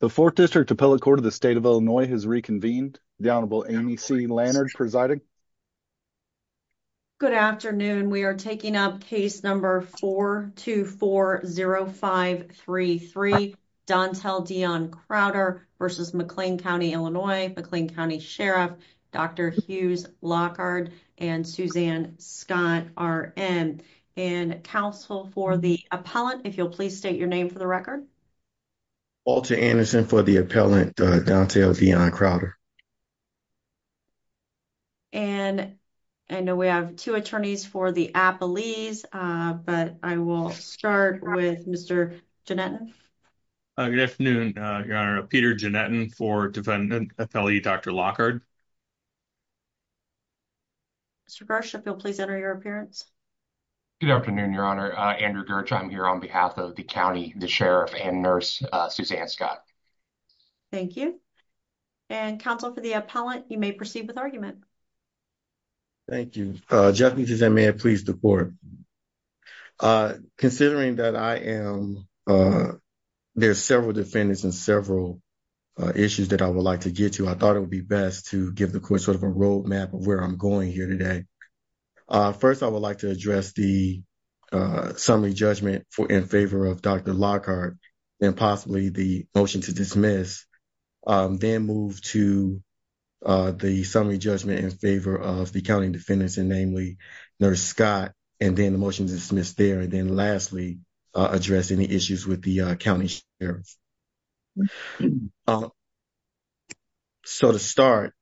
The 4th District Appellate Court of the State of Illinois has reconvened. The Honorable Amy C. Lannard presiding. Good afternoon. We are taking up case number 4240533, Dontell Dion Crowder v. McLean County, Illinois, McLean County Sheriff, Dr. Hughes Lockard and Suzanne Scott are in. And counsel for the appellant, if you'll please state your name for the record. Walter Anderson for the appellant, Dontell Dion Crowder. And I know we have two attorneys for the appellees, but I will start with Mr. Janneton. Good afternoon, Your Honor. Peter Janneton for defendant appellee, Dr. Lockard. Mr. Gersh, if you'll please enter your appearance. Good afternoon, Your Honor. Andrew Gersh, I'm here on behalf of the county, the sheriff and nurse, Suzanne Scott. Thank you. And counsel for the appellant, you may proceed with argument. Thank you. Judge, may I please report? Considering that I am, there's several defendants and several issues that I would like to get to, I thought it would be best to give the court sort of a roadmap of where I'm going here today. First, I would like to address the summary judgment in favor of Dr. Lockard and possibly the motion to dismiss, then move to the summary judgment in favor of the county defendants and namely Nurse Scott, and then the motion to dismiss there. And then lastly, address any with the county sheriff. So to start,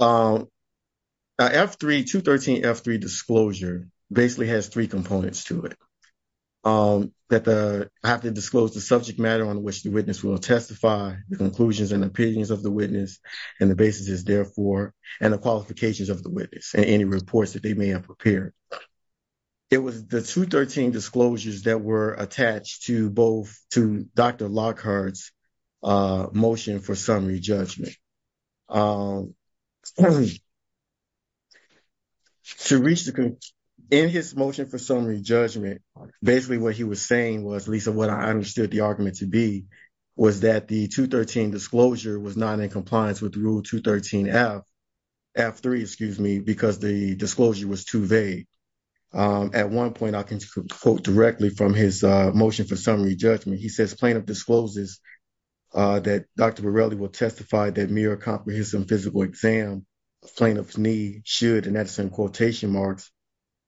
F3, 213 F3 disclosure basically has three components to it. That the, I have to disclose the subject matter on which the witness will testify, the conclusions and opinions of the witness and the basis is therefore, and the qualifications of the witness and any reports they may have prepared. It was the 213 disclosures that were attached to both to Dr. Lockhart's motion for summary judgment. To reach the, in his motion for summary judgment, basically what he was saying was, Lisa, what I understood the argument to be was that the 213 disclosure was not in compliance with rule 213 F, F3, excuse me, because the disclosure was too vague. At one point, I can quote directly from his motion for summary judgment. He says plaintiff discloses that Dr. Morelli will testify that mere comprehensive physical exam plaintiff's need should, and that's in quotation marks,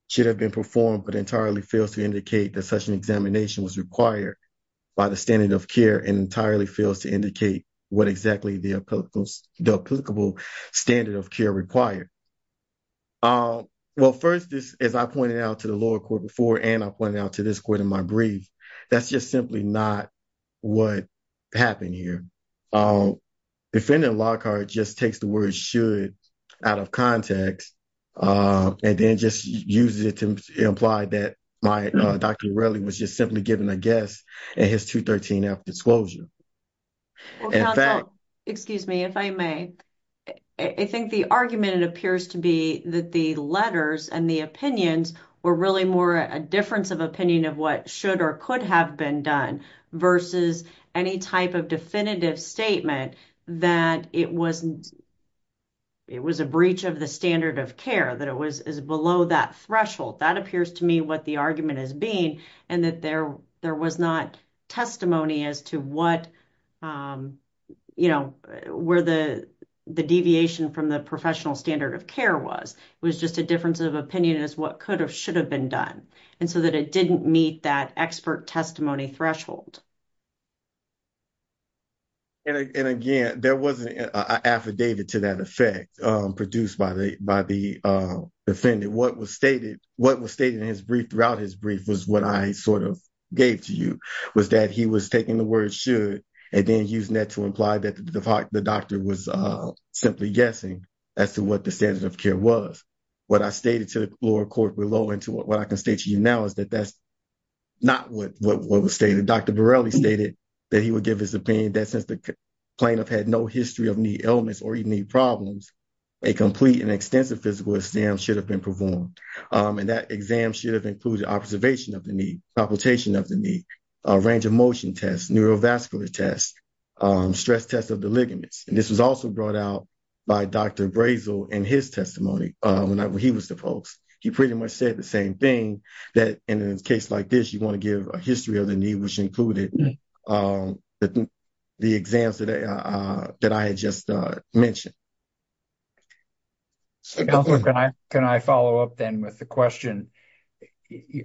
should have been performed, but entirely fails to indicate that such an examination was required by the standard of care and entirely fails to indicate what exactly the applicable standard of care required. Um, well, first this, as I pointed out to the lower court before, and I pointed out to this court in my brief, that's just simply not what happened here. Defending Lockhart just takes the word should out of context, and then just uses it to imply that my Dr. Morelli was just simply given a guess at his 213 F disclosure. Excuse me, if I may, I think the argument, it appears to be that the letters and the opinions were really more a difference of opinion of what should or could have been done versus any type of definitive statement that it was, it was a breach of the standard of care, that it was below that threshold. That appears to me what the argument is being, and that there was not testimony as to what, um, you know, where the deviation from the standard of care was. It was just a difference of opinion as to what could or should have been done, and so that it didn't meet that expert testimony threshold. And again, there wasn't an affidavit to that effect, um, produced by the defendant. What was stated, what was stated in his brief, throughout his brief, was what I sort of gave to you, was that he was taking the word should and then using that to imply that the doctor was simply guessing as to what the standard of care was. What I stated to the lower court below and to what I can state to you now is that that's not what was stated. Dr. Borelli stated that he would give his opinion that since the plaintiff had no history of knee illness or even knee problems, a complete and extensive physical exam should have been performed, and that exam should have included observation of the knee, palpitation of the knee, a range of motion test, neurovascular test, stress test of ligaments. And this was also brought out by Dr. Brazel in his testimony whenever he was the post. He pretty much said the same thing, that in a case like this, you want to give a history of the knee which included the exams that I had just mentioned. Counselor, can I follow up then with the question?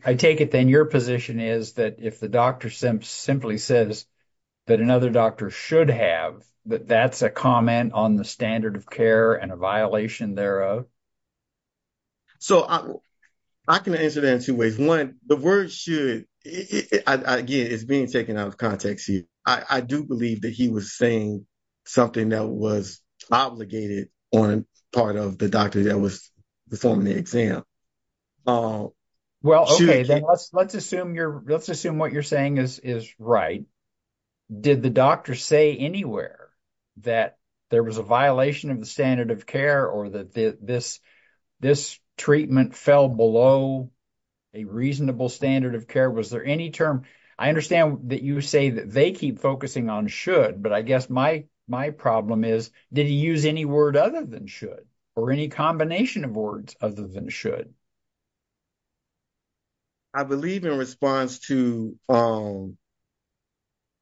I take it then your position is that if the doctor simply says that another doctor should have, that that's a comment on the standard of care and a violation thereof? So, I can answer that in two ways. One, the word should, again, is being taken out of context here. I do believe that he was saying something that was obligated on part of the doctor that was performing the exam. Well, okay, then let's assume what you're saying is right. Did the doctor say anywhere that there was a violation of the standard of care or that this treatment fell below a reasonable standard of care? Was there any term? I understand that you say that they keep focusing on should, but I guess my problem is, did he use any word other than should or any combination of words other than should? I believe in response to,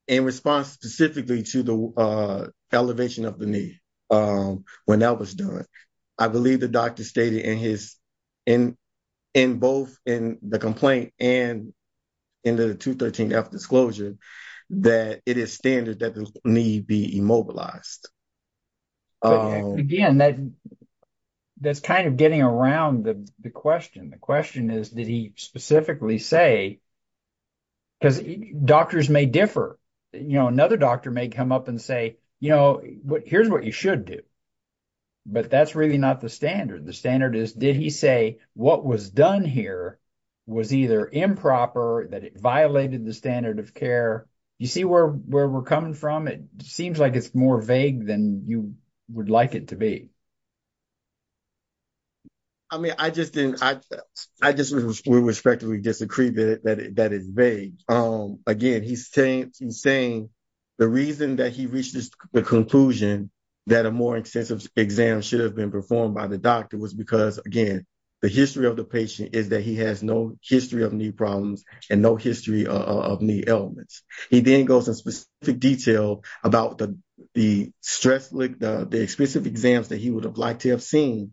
in response specifically to the elevation of the knee when that was done, I believe the doctor stated in his, in both in the complaint and in the 213F disclosure that it is standard that the knee be immobilized. But again, that's kind of getting around the question. The question is, did he specifically say, because doctors may differ. Another doctor may come up and say, here's what you should do, but that's really not the standard. The standard is, did he say what was done here was either improper, that it violated the standard of care? You see where we're coming from? It seems like it's more vague than you would like it to be. I mean, I just didn't, I just, we respectfully disagree that that is vague. Again, he's saying, he's saying the reason that he reached the conclusion that a more extensive exam should have been performed by the doctor was because again, the history of the patient is that he has no history of knee problems and no history of knee ailments. He then goes in specific detail about the, the stress, the specific exams that he would have liked to have seen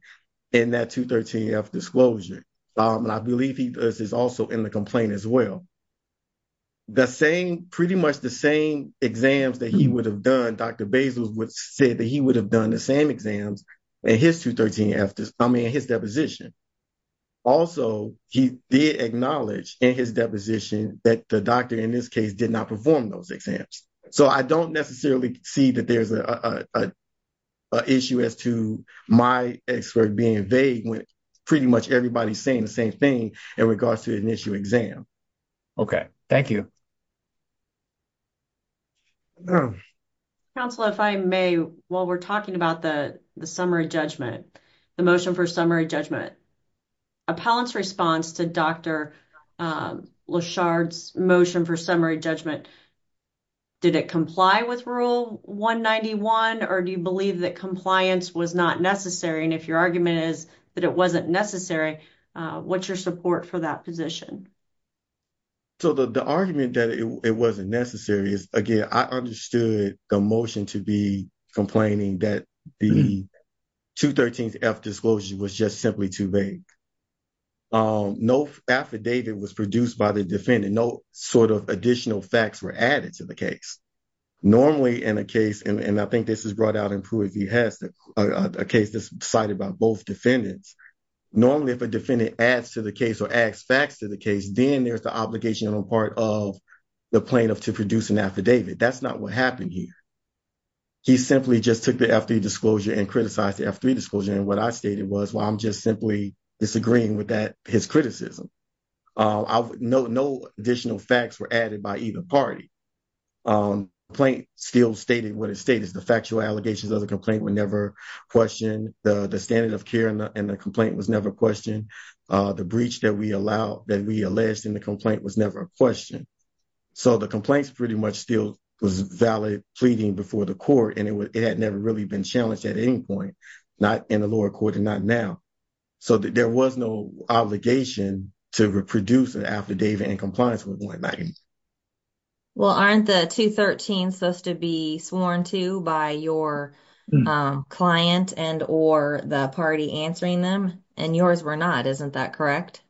in that 213F disclosure. And I believe he does this also in the complaint as well. The same, pretty much the same exams that he would have done, Dr. Bezos would say that he would have done the same exams in his 213F, I mean, his deposition. Also, he did acknowledge in his deposition that the doctor in this case did not perform those exams. So, I don't necessarily see that there's an issue as to my expert being vague when pretty much everybody's saying the same thing in regards to an issue exam. Okay. Thank you. Counselor, if I may, while we're talking about the summary judgment, the motion for summary judgment, appellant's response to Dr. Lashard's motion for summary judgment, did it comply with rule 191 or do you believe that compliance was not necessary? And if your argument is that it wasn't necessary, what's your support for that position? So, the argument that it wasn't necessary is, again, I understood the motion to be complaining that the 213F disclosure was just simply too vague. No affidavit was produced by the defendant, no sort of additional facts were added to the case. Normally, in a case, and I think this is brought out in Pruitt v. Hess, a case that's cited by both defendants, normally if a defendant adds to the case or adds facts to the case, then there's the obligation on the part of the plaintiff to produce an affidavit. That's not what happened here. He simply just took the F3 disclosure and criticized the F3 disclosure, and what I stated was, well, I'm just simply disagreeing with that, his criticism. No additional facts were added by either party. The complaint still stated what it stated, the factual allegations of the complaint were never questioned, the standard of care in the complaint was never questioned, the breach that we allowed, that we alleged in the complaint was never questioned. So, the complaint's pretty much still valid pleading before the court, and it had never really been challenged at any point, not in the lower court and not now. So, there was no obligation to reproduce an affidavit in compliance with one. Well, aren't the 213 supposed to be sworn to by your client and or the party answering them? And yours were not, isn't that correct?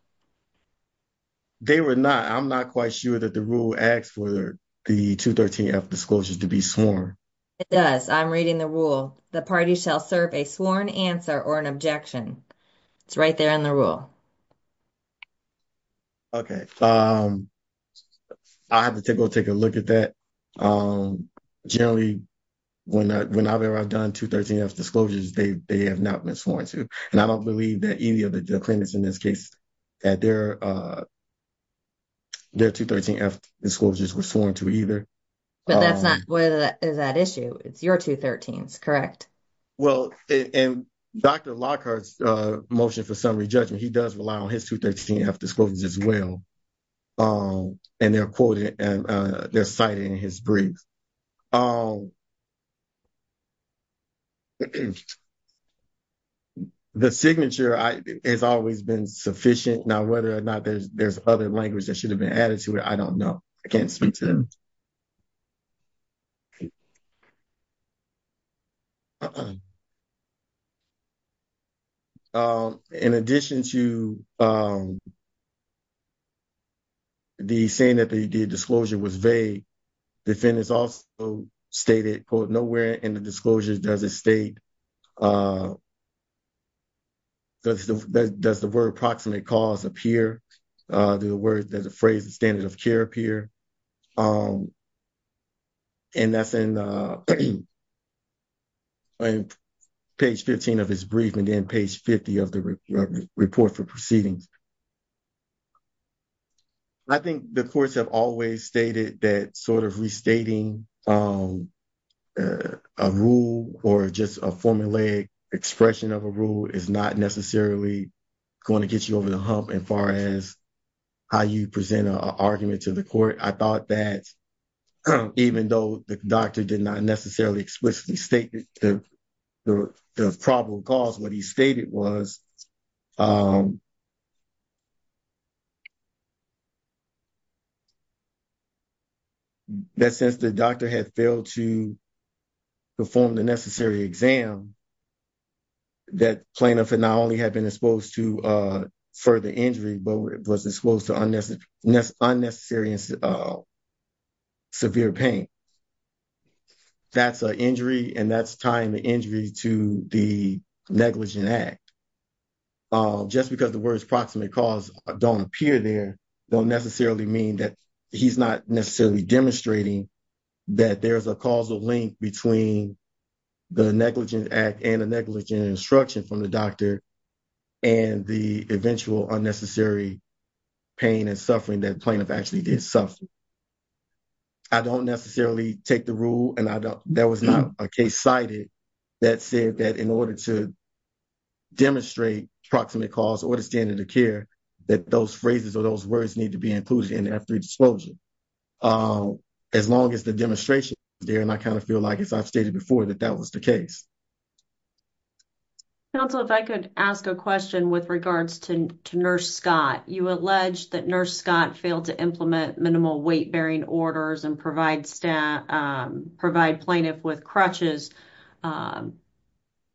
They were not. I'm not quite sure that the rule asks for the 213 F disclosures to be sworn. It does. I'm reading the rule. The party shall serve a sworn answer or an objection. It's right there in the rule. Okay. I'll have to go take a look at that. Generally, whenever I've done 213 F disclosures, they have not been sworn to, and I don't believe that any of the claimants in this case that their 213 F disclosures were sworn to either. But that's not what is that issue. It's your 213s, correct? Well, and Dr. Lockhart's motion for summary judgment, he does rely on his 213 F disclosures as well, and they're cited in his brief. Oh, the signature has always been sufficient. Now, whether or not there's other language that should have been added to it, I don't know. I can't speak to them. In addition to the saying that the disclosure was vague, the defendants also stated, quote, nowhere in the disclosures does it state, does the word approximate cause appear, does the phrase standard of care appear, and that's in page 15 of his brief and then page 50 of the report for proceedings. I think the courts have always stated that sort of restating a rule or just a formulaic expression of a rule is not necessarily going to get you over the hump as far as how you present an argument to the court. I thought that even though the doctor did not necessarily explicitly state the probable cause, what he stated was that since the doctor had failed to perform the necessary exam, that plaintiff not only had been exposed to further injury, but was exposed to unnecessary severe pain. That's an injury, and that's tying the injury to the negligent act. Just because the words approximate cause don't appear there don't necessarily mean that he's not demonstrating that there's a causal link between the negligent act and the negligent instruction from the doctor and the eventual unnecessary pain and suffering that plaintiff actually did suffer. I don't necessarily take the rule, and that was not a case cited that said that in order to demonstrate approximate cause or the standard of care that those phrases or those words need to be exposed, as long as the demonstration is there. I kind of feel like as I've stated before that that was the case. Counsel, if I could ask a question with regards to nurse Scott. You alleged that nurse Scott failed to implement minimal weight-bearing orders and provide plaintiff with crutches, and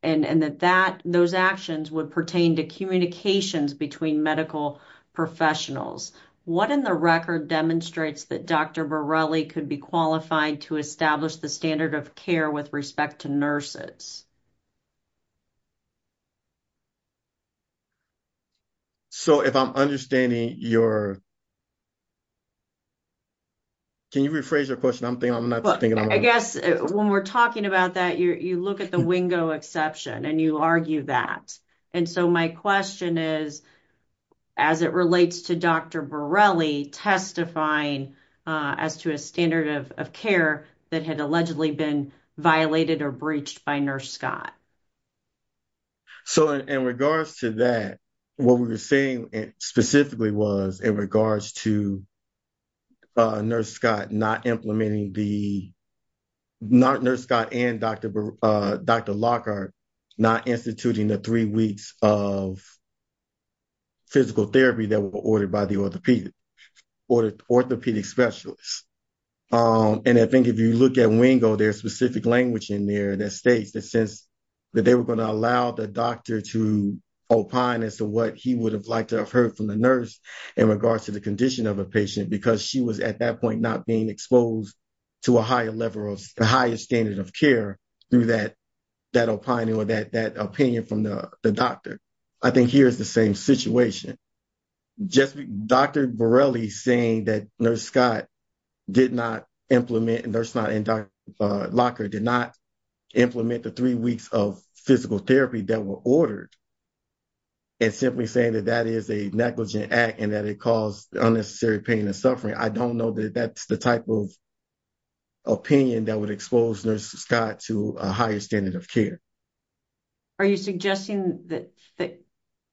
that those actions would pertain to communications between medical professionals. What in the record demonstrates that Dr. Borelli could be qualified to establish the standard of care with respect to nurses? So, if I'm understanding your... Can you rephrase your question? I'm not thinking... I guess when we're talking about that, you look at the Wingo exception, and you argue that. And so, my question is, as it relates to Dr. Borelli testifying as to a standard of care that had allegedly been violated or breached by nurse Scott. So, in regards to that, what we were saying specifically was in regards to nurse Scott not implementing the... Not nurse Scott and Dr. Lockhart not instituting the three weeks of physical therapy that were ordered by the orthopedic specialist. And I think if you look at Wingo, there's specific language in there that states that since that they were going to allow the doctor to opine as to what he would have liked to have heard from the nurse in regards to the condition of a patient, because she was at that point not being exposed to a higher level of... A higher standard of care through that opining or that opinion from the doctor. I think here's the same situation. Just Dr. Borelli saying that nurse Scott did not implement... And nurse Scott and Dr. Lockhart did not implement the three weeks of physical therapy that were ordered and simply saying that that is a negligent act and that it caused unnecessary pain and suffering. I don't know that that's the type of opinion that would expose nurse Scott to a higher standard of care. Are you suggesting that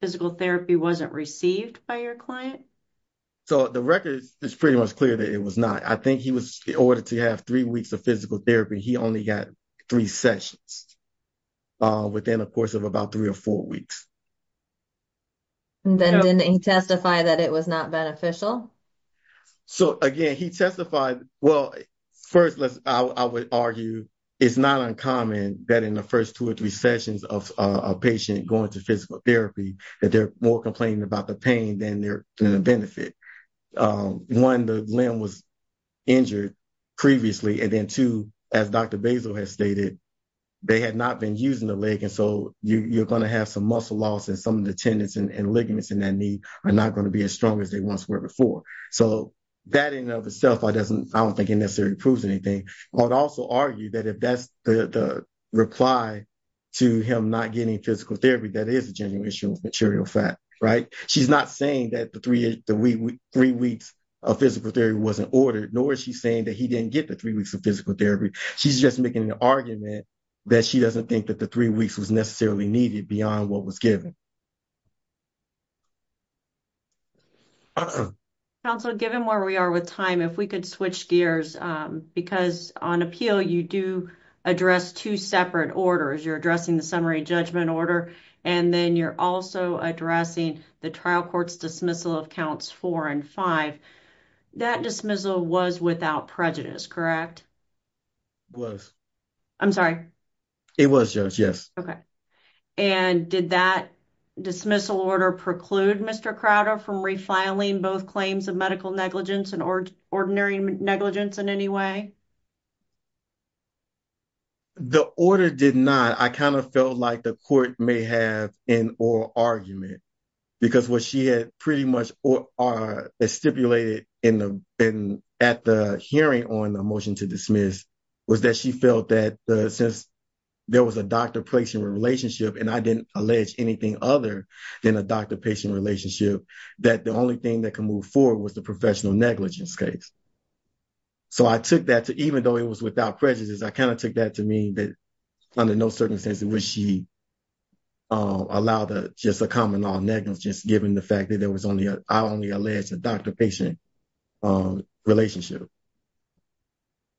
physical therapy wasn't received by your client? So, the record is pretty much clear that it was not. I think he was... In order to have three weeks of physical therapy, he only got three sessions within a course of about three or four weeks. And then didn't he testify that it was not beneficial? So, again, he testified... Well, first, I would argue it's not uncommon that in the first two or three sessions of a patient going to physical therapy that they're more complaining about the benefit. One, the limb was injured previously. And then, two, as Dr. Basil has stated, they had not been using the leg. And so, you're going to have some muscle loss and some of the tendons and ligaments in that knee are not going to be as strong as they once were before. So, that in and of itself, I don't think it necessarily proves anything. I would also argue that if that's the reply to him not getting physical therapy, that is a genuine issue of saying that the three weeks of physical therapy wasn't ordered, nor is she saying that he didn't get the three weeks of physical therapy. She's just making an argument that she doesn't think that the three weeks was necessarily needed beyond what was given. Counsel, given where we are with time, if we could switch gears, because on appeal, you do address two separate orders. You're addressing the summary judgment order, and then you're also addressing the trial court's dismissal of counts four and five. That dismissal was without prejudice, correct? It was. I'm sorry? It was, Judge, yes. Okay. And did that dismissal order preclude Mr. Crowder from refiling both claims of medical negligence and ordinary negligence in any way? The order did not. I kind of felt like the court may have an oral argument, because what she had pretty much stipulated at the hearing on the motion to dismiss was that she felt that since there was a doctor-patient relationship, and I didn't allege anything other than a doctor-patient relationship, that the only thing that could move forward was the professional negligence case. So, I took that to, even though it was without prejudice, I kind of took that to mean that under no circumstances would she allow just a common-law negligence, just given the fact that I only alleged a doctor-patient relationship.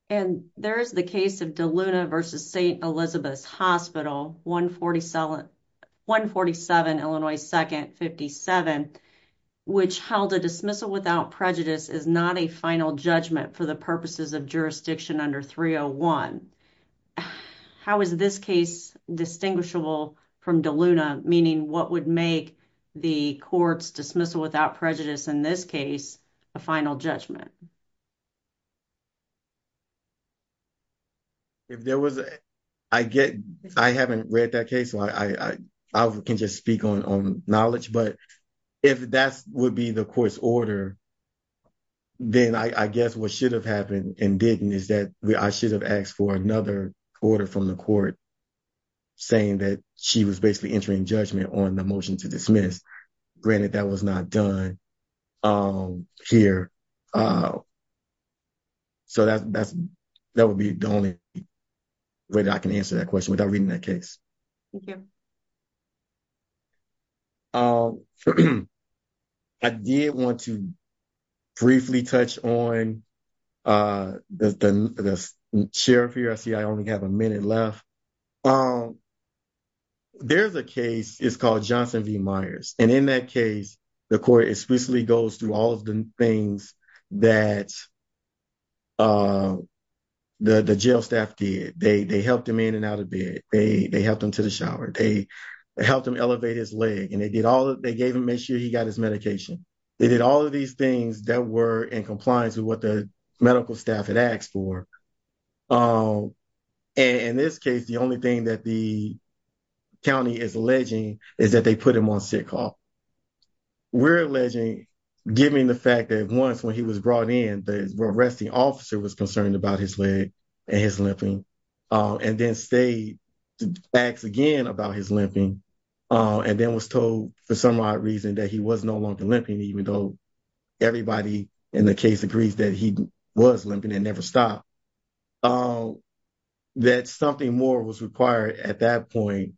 And there is the case of DeLuna v. St. Elizabeth's Hospital, 147 Illinois 2nd, 57, which held a dismissal without prejudice is not a final judgment for the purposes of jurisdiction under 301. How is this case distinguishable from DeLuna, meaning what would make the court's dismissal without prejudice in this case a final judgment? If there was, I get, I haven't read that case, so I can just speak on knowledge, but if that would be the court's order, then I guess what should have happened and didn't is that I should have asked for another order from the court saying that she was basically entering judgment on a motion to dismiss, granted that was not done here. So, that would be the only way that I can answer that question without reading that case. Thank you. I did want to briefly touch on the sheriff here. I see I only have a minute left. There's a case, it's called Johnson v. Myers, and in that case, the court explicitly goes through all of the things that the jail staff did. They helped him in and out of bed, they helped him to the shower, they helped him elevate his leg, and they did all, they gave him, made sure he got his medication. They did all of these things that were in compliance with what the medical staff had asked for. And in this case, the only thing that the county is alleging is that they put him on sick haul. We're alleging, given the fact that once when he was brought in, the arresting officer was concerned about his leg and his limping, and then stayed to ask again about his limping, and then was told for some odd reason that he was no longer limping, even though everybody in the case agrees that he was limping and never stopped, that something more was required at that point,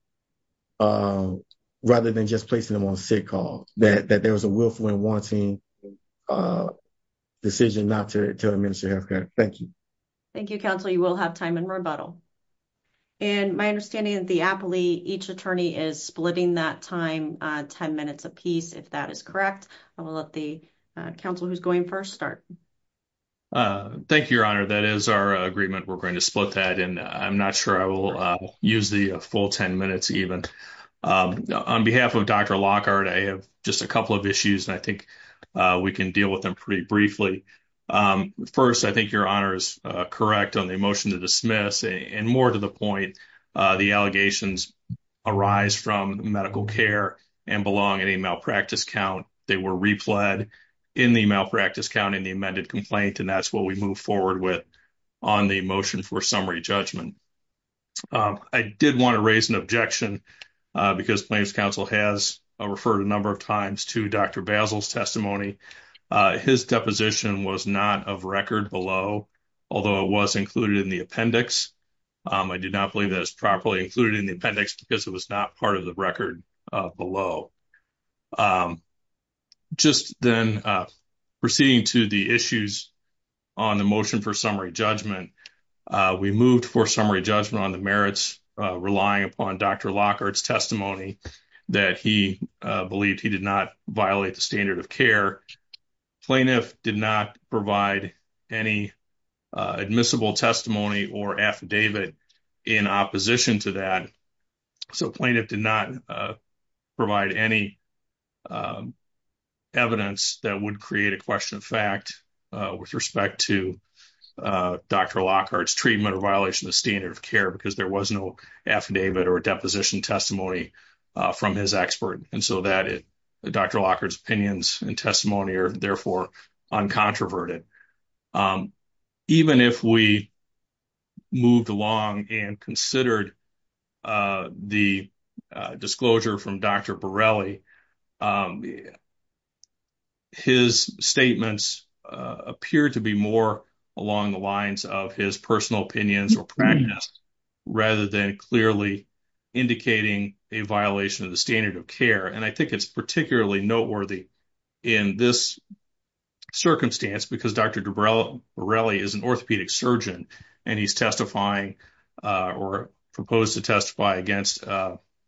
rather than just placing him on sick haul, that there was a willful and wanting decision not to administer health care. Thank you. Thank you, counsel. You will have time in rebuttal. And my understanding is the appellee, each attorney is splitting that time 10 minutes apiece, if that is correct. I will let the counsel who's going first start. Thank you, Your Honor. That is our agreement. We're going to split that, and I'm not sure I will use the full 10 minutes even. On behalf of Dr. Lockhart, I have just a couple of issues, and I think we can deal with them pretty briefly. First, I think Your Honor is correct on the motion to dismiss, and more to the point, the allegations arise from medical care and belong in a malpractice count. They were repled in the malpractice count in the amended complaint, and that's what we move forward with on the motion for summary judgment. I did want to raise an objection, because plaintiff's counsel has referred a number of times to Dr. Basil's testimony. His deposition was not of record below, although it was included in the appendix. I do not believe that it's properly included in the appendix, because it was not part of the record below. Just then, proceeding to the issues on the motion for summary judgment, we moved for summary judgment on the merits relying upon Dr. Lockhart's testimony that he believed he did not violate the standard of care. Plaintiff did not provide any admissible testimony or affidavit in opposition to that, so plaintiff did not provide any evidence that would create a question of fact with respect to Dr. Lockhart's treatment or violation of standard of care, because there was no affidavit or deposition testimony from his expert, and so Dr. Lockhart's opinions and testimony are therefore uncontroverted. Even if we moved along and considered the disclosure from Dr. Borelli, his statements appear to be more along the lines of his personal opinions or practice, rather than clearly indicating a violation of the standard of care, and I think it's particularly noteworthy in this circumstance, because Dr. Borelli is an orthopedic surgeon, and he's proposed to testify against an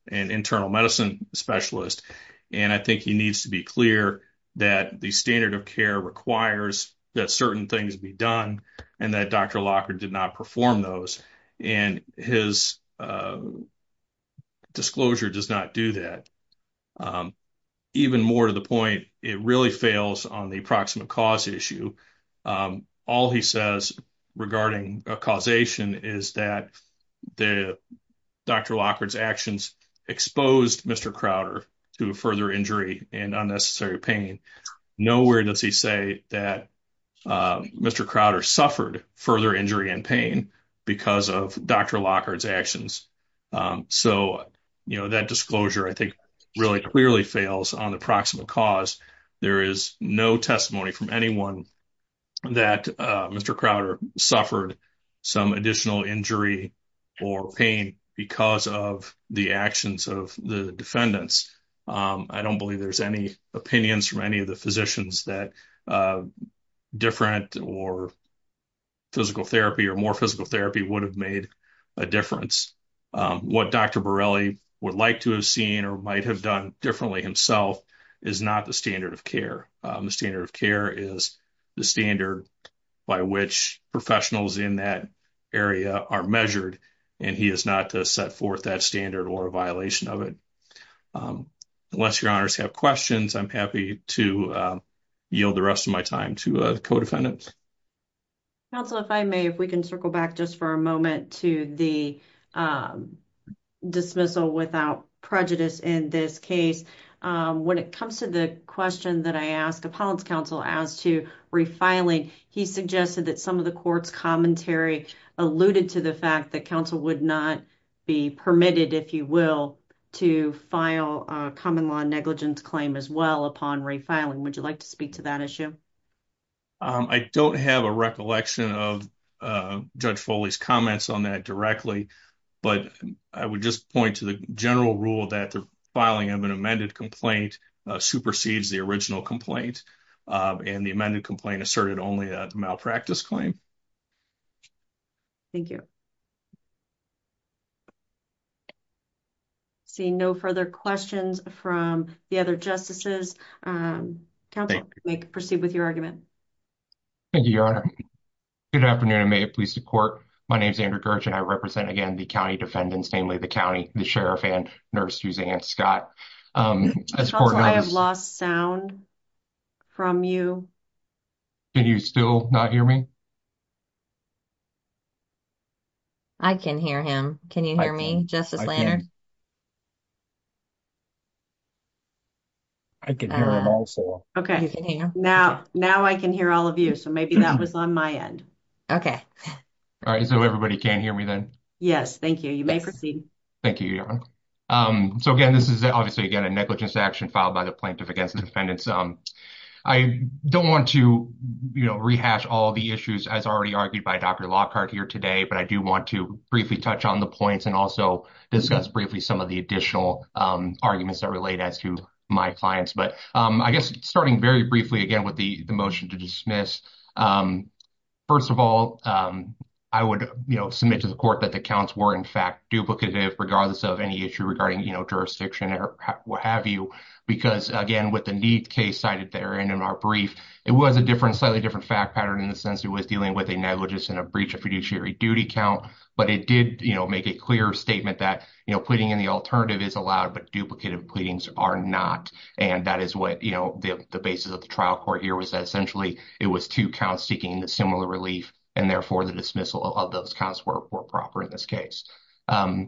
internal medicine specialist, and I think he needs to be clear that the standard of care requires that certain things be done, and that Dr. Lockhart did not perform those, and his disclosure does not do that. Even more to the point, it really fails on the approximate cause issue. All he says regarding a causation is that Dr. Lockhart's actions exposed Mr. Crowder to further injury and unnecessary pain. Nowhere does he say that Mr. Crowder suffered further injury and pain because of Dr. Lockhart's actions, so that disclosure, I think, really clearly fails on the approximate cause. There is no testimony from anyone that Mr. Crowder suffered some additional injury or pain because of the actions of the defendants. I don't believe there's any opinions from any of the physicians that different or physical therapy or more physical therapy would have made a difference. What Dr. Borelli would like to have seen or might have done differently himself is not the standard of care. The standard of care is the standard by which professionals in that area are measured, and he is not to set forth that standard or a violation of it. Unless your honors have questions, I'm happy to yield the rest of my time to the co-defendants. Counsel, if I may, if we can circle back just for a moment to the dismissal without prejudice in this case. When it comes to the question that I asked Apollon's counsel as to refiling, he suggested that some of the court's commentary alluded to the fact that counsel would not be permitted, if you will, to file a common law negligence claim as well upon refiling. Would you like to speak to that issue? I don't have a recollection of Judge Foley's comments on that directly, but I would just point to the general rule that the filing of an amended complaint supersedes the original complaint, and the amended complaint asserted only a malpractice claim. Thank you. Seeing no further questions from the other justices, counsel, we can proceed with your argument. Thank you, your honor. Good afternoon, and may it please the court. My name is Andrew Gersh, and I represent, again, the county defendants, namely the county, the sheriff, and nurse Suzanne Scott. Counsel, I have lost sound from you. Can you still not hear me? I can hear him. Can you hear me, Justice Leonard? I can hear him also. Okay, now I can hear all of you, so maybe that was on my end. Okay. All right, so everybody can hear me then? Yes, thank you. You may proceed. Thank you, your honor. So, again, this is obviously, again, a negligence action filed by the plaintiff against defendants. I don't want to, you know, rehash all the issues as already argued by Dr. Lockhart here today, but I do want to briefly touch on the points and also discuss briefly some of the additional arguments that relate as to my clients. But I guess starting very briefly, again, with the motion to dismiss, first of all, I would, you know, submit to the court that the counts were, in fact, duplicative regardless of any issue regarding, you know, jurisdiction or what have you. Because, again, with the need case cited there and in our brief, it was a different, slightly different fact pattern in the sense it was dealing with a negligence and a breach of fiduciary duty count. But it did, you know, make a clear statement that, you know, pleading in the alternative is allowed, but duplicative pleadings are not. And that is what, you know, the basis of the trial court here was that essentially it was two counts seeking the similar relief and, therefore, the dismissal of those counts were proper in this case. Now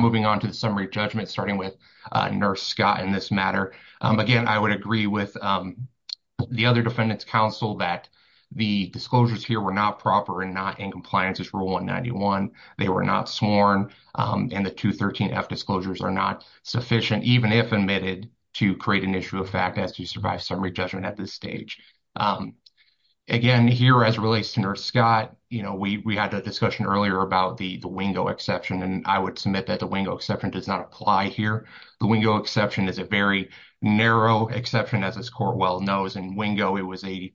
moving on to the summary judgment, starting with Nurse Scott in this matter. Again, I would agree with the other defendant's counsel that the disclosures here were not proper and not in compliance with Rule 191. They were not sworn, and the 213F disclosures are not sufficient, even if admitted, to create an issue of fact as to survive summary judgment at this stage. Again, here as it relates to Nurse Scott, you know, we had a discussion earlier about the Wingo exception, and I would submit that the Wingo exception is a very narrow exception, as this court well knows. In Wingo, it was a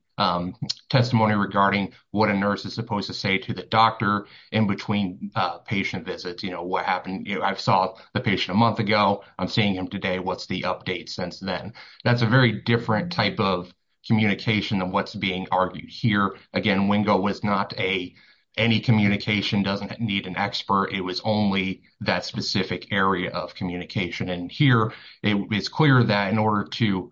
testimony regarding what a nurse is supposed to say to the doctor in between patient visits, you know, what happened, you know, I saw the patient a month ago. I'm seeing him today. What's the update since then? That's a very different type of communication than what's being argued here. Again, Wingo was not a, any communication doesn't need an expert. It was only that specific area of communication. And here, it's clear that in order to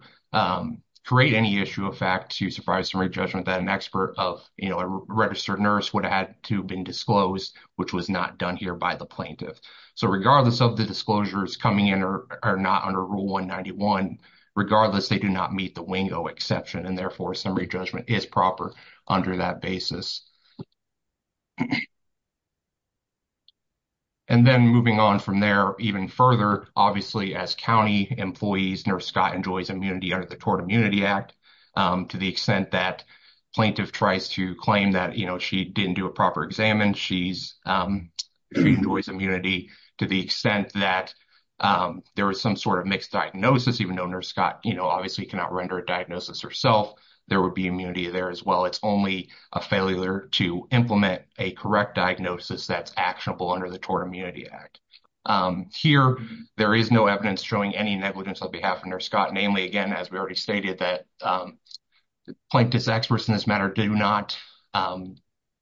create any issue of fact to survive summary judgment that an expert of, you know, a registered nurse would have to have been disclosed, which was not done here by the plaintiff. So, regardless of the disclosures coming in or not under Rule 191, regardless, they do not meet the Wingo exception, and therefore, summary judgment is proper under that basis. And then, moving on from there, even further, obviously, as county employees, Nurse Scott enjoys immunity under the Tort Immunity Act, to the extent that plaintiff tries to claim that, you know, she didn't do a proper exam and she's, she enjoys immunity to the extent that there was some sort of mixed diagnosis, even though Nurse obviously cannot render a diagnosis herself, there would be immunity there as well. It's only a failure to implement a correct diagnosis that's actionable under the Tort Immunity Act. Here, there is no evidence showing any negligence on behalf of Nurse Scott. Namely, again, as we already stated, that plaintiff's experts in this matter do not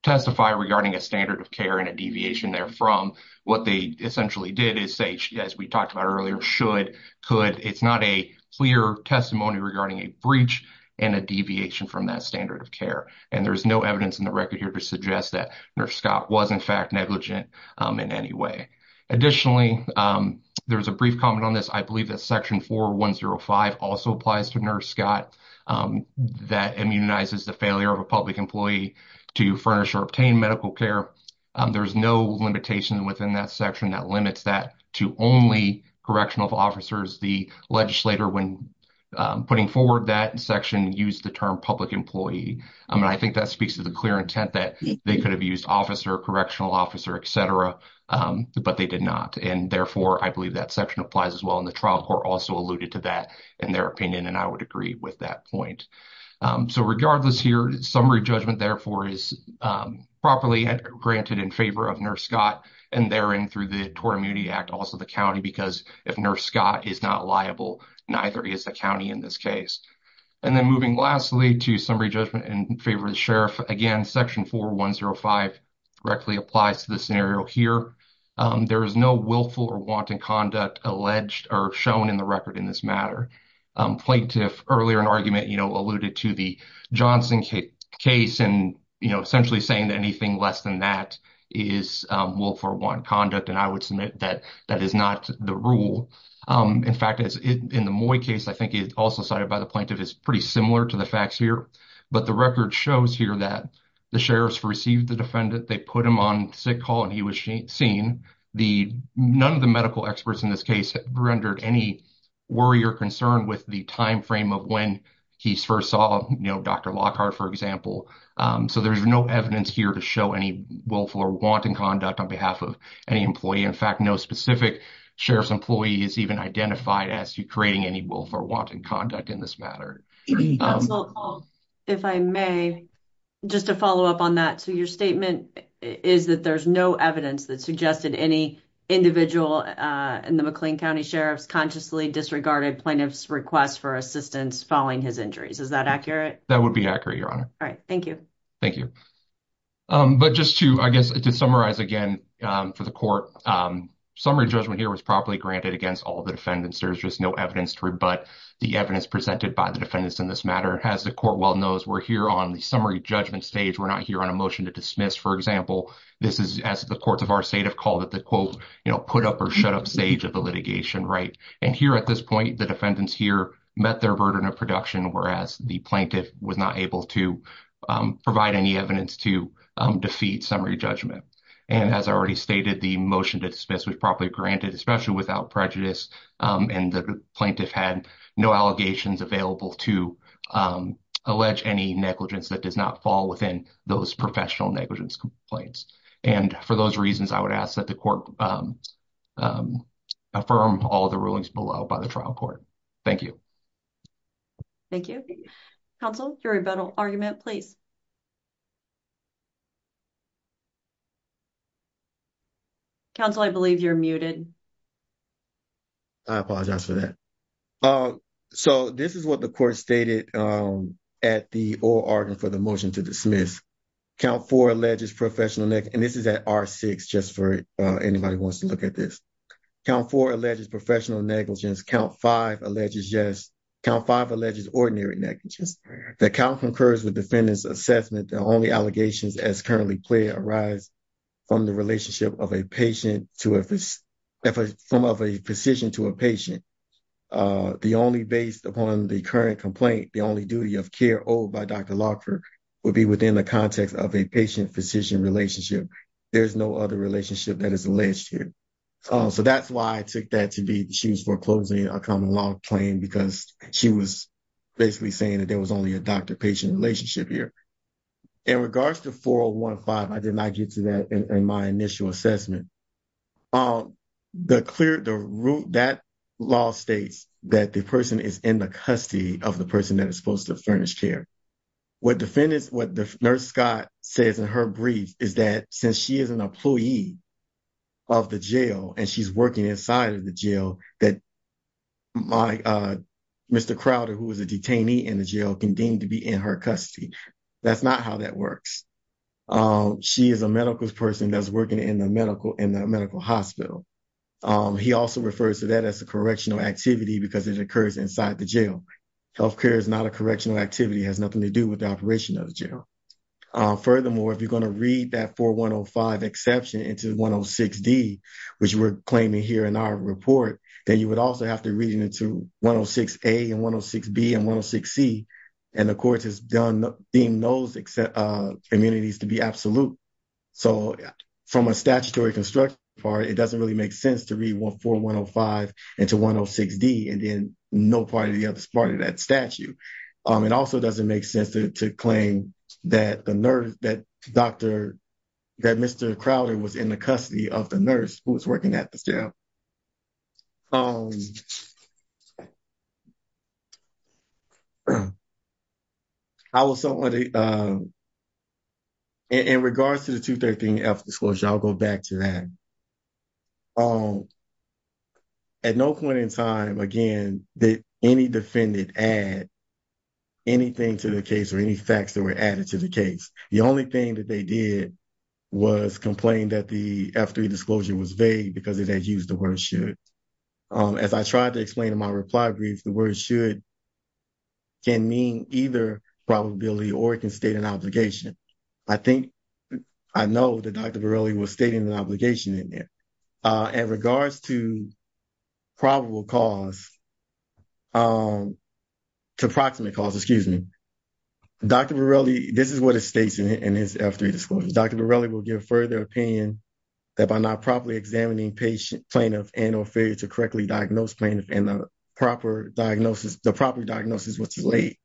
testify regarding a standard of care and a deviation therefrom. What they essentially did is say, as we talked about earlier, should, could, it's not a clear testimony regarding a breach and a deviation from that standard of care. And there's no evidence in the record here to suggest that Nurse Scott was, in fact, negligent in any way. Additionally, there's a brief comment on this. I believe that Section 4105 also applies to Nurse Scott that immunizes the failure of a public employee to furnish or obtain medical care. There's no limitation within that section that limits that to only correctional officers. The legislator, when putting forward that section, used the term public employee. I mean, I think that speaks to the clear intent that they could have used officer, correctional officer, et cetera, but they did not. And therefore, I believe that section applies as well. And the trial court also alluded to that in their opinion, and I would agree with that point. So, regardless here, summary judgment, therefore, is properly granted in favor of Nurse Scott and therein through the Tort Immunity Act, also the county, because if Nurse Scott is not liable, neither is the county in this case. And then moving lastly to summary judgment in favor of the sheriff, again, Section 4105 directly applies to the scenario here. There is no willful or wanton conduct alleged or shown in the record in this matter. Plaintiff earlier in argument, you know, alluded to the Johnson case and, you know, essentially saying that anything less than that is willful or wanton conduct. And I would submit that that is not the rule. In fact, in the Moy case, I think it also cited by the plaintiff is pretty similar to the facts here, but the record shows here that the sheriff's received the defendant, they put him on sick call and he was seen. None of the medical experts in this case rendered any worry or concern with the timeframe of when he first saw, you know, Dr. Lockhart, for example. So, there's no evidence here to show any willful or wanton conduct on behalf of any employee. In fact, no specific sheriff's employee is even identified as creating any willful or wanton conduct in this matter. If I may, just to follow up on that. So, your statement is that there's no evidence that suggested any individual in the McLean County Sheriff's consciously disregarded plaintiff's request for assistance following his injuries. Is that accurate? That would be accurate, Your Honor. All right. Thank you. Thank you. But just to, I guess, to summarize again for the court, summary judgment here was properly granted against all the defendants. There's just no evidence to rebut the evidence presented by the defendants in this matter. As the court well knows, we're here on the summary judgment stage. We're not here on a motion to dismiss. For example, this is as the courts of our state have called it, the quote, you know, put up or shut up stage of the litigation, right? And here at this point, the defendants here met their burden of production, whereas the plaintiff was not able to provide any evidence to defeat summary judgment. And as I already stated, the motion to dismiss was properly granted, especially without prejudice. And the plaintiff had no allegations available to allege any negligence that does not fall within those professional negligence complaints. And for those reasons, I would ask that the court affirm all the rulings below by the trial court. Thank you. Thank you. Counsel, your rebuttal argument, please. Counsel, I believe you're muted. I apologize for that. So, this is what the court stated at the oral argument for the motion to dismiss. Count four alleges professional negligence, and this is at R6 just for anybody who wants to look at this. Count four alleges professional negligence. Count five alleges ordinary negligence. The count concurs with defendant's assessment. The only allegations as currently clear arise from the relationship of a physician to a patient. The only based upon the current complaint, the only duty of care owed by Dr. Lockhart would be within the context of a patient-physician relationship. There's no other relationship that is alleged here. So, that's why I took that to be she was foreclosing a common law claim because she was basically saying that there was only a doctor-patient relationship here. In regards to 401.5, I did not get to that in my initial assessment. That law states that the person is in the custody of the person that is supposed to furnish care. What the nurse Scott says in her brief is that since she is an employee of the jail and she's working inside of the jail, that Mr. Crowder, who was a detainee in the jail, can deem to be in her custody. That's not how that works. She is a medical person that's working in the medical hospital. He also refers to that as a correctional activity because it occurs inside the jail. Healthcare is not a correctional activity. It has nothing to do with the operation of the jail. Furthermore, if you're going to read that 401.5 exception into 106D, which we're claiming here in our report, then you would also have to read it into 106A and 106B and 106C. The court has deemed those immunities to be absolute. So, from a statutory construction part, it doesn't really make sense to read 401.5 into 106D and then no part of the other part of that statute. It also doesn't make sense to claim that Mr. Crowder was in the custody of the nurse who was working at the jail. In regards to the 213F disclosure, I'll go back to that. At no point in time, again, did any defendant add anything to the case or any facts that were added to the case. The only thing that they did was complain that the F3 disclosure was vague because it had used the word should. As I tried to explain in my reply brief, the word should can mean either probability or it can state an obligation. I think I know that Dr. Varela was stating an obligation in there. In regards to probable cause, to approximate cause, excuse me, Dr. Varela, this is what it states in his F3 disclosure. Dr. Varela will give further opinion that by not properly examining patient, plaintiff, and or failure to correctly diagnose plaintiff in the proper diagnosis, the proper diagnosis was too late.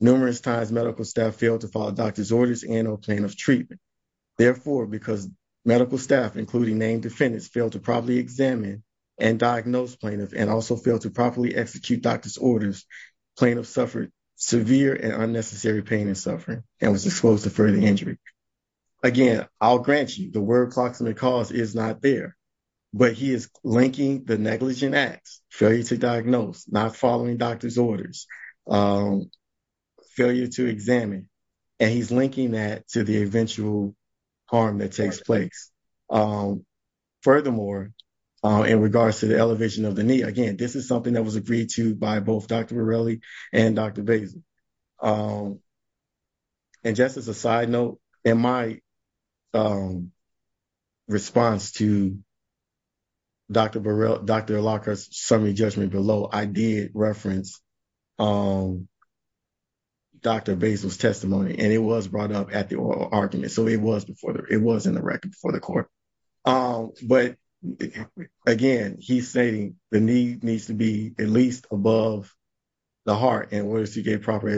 Numerous times medical staff failed to follow doctor's orders and or plaintiff's treatment. Therefore, because medical staff, including named defendants, failed to properly examine and diagnose plaintiff and also failed to properly execute doctor's orders, plaintiff suffered severe and unnecessary pain and suffering and was exposed to further injury. Again, I'll grant you the word approximate cause is not there, but he is linking the negligent acts, failure to diagnose, not following doctor's orders, failure to examine, and he's linking that to the eventual harm that takes place. Furthermore, in regards to the elevation of the knee, again, this is something that was agreed to by both Dr. Varela and Dr. Basel. Just as a side note, in my response to Dr. Varela's summary judgment below, I did reference Dr. Basel's testimony, and it was brought up at the oral argument, so it was in the record before the court. But again, he's stating the knee needs to be at least above the heart in order to get proper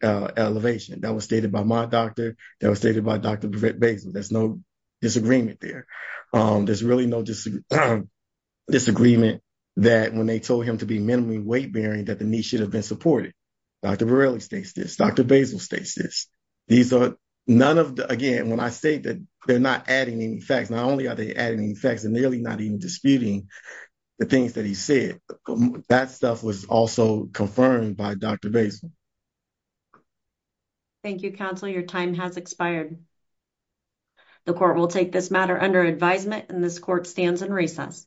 elevation. That was stated by my doctor. That was stated by Dr. Basel. There's no disagreement there. There's really no disagreement that when they told him to be supported. Dr. Varela states this. Dr. Basel states this. These are none of the, again, when I say that they're not adding any facts, not only are they adding any facts, they're nearly not even disputing the things that he said. That stuff was also confirmed by Dr. Basel. Thank you, counsel. Your time has expired. The court will take this matter under advisement, and this court stands in recess.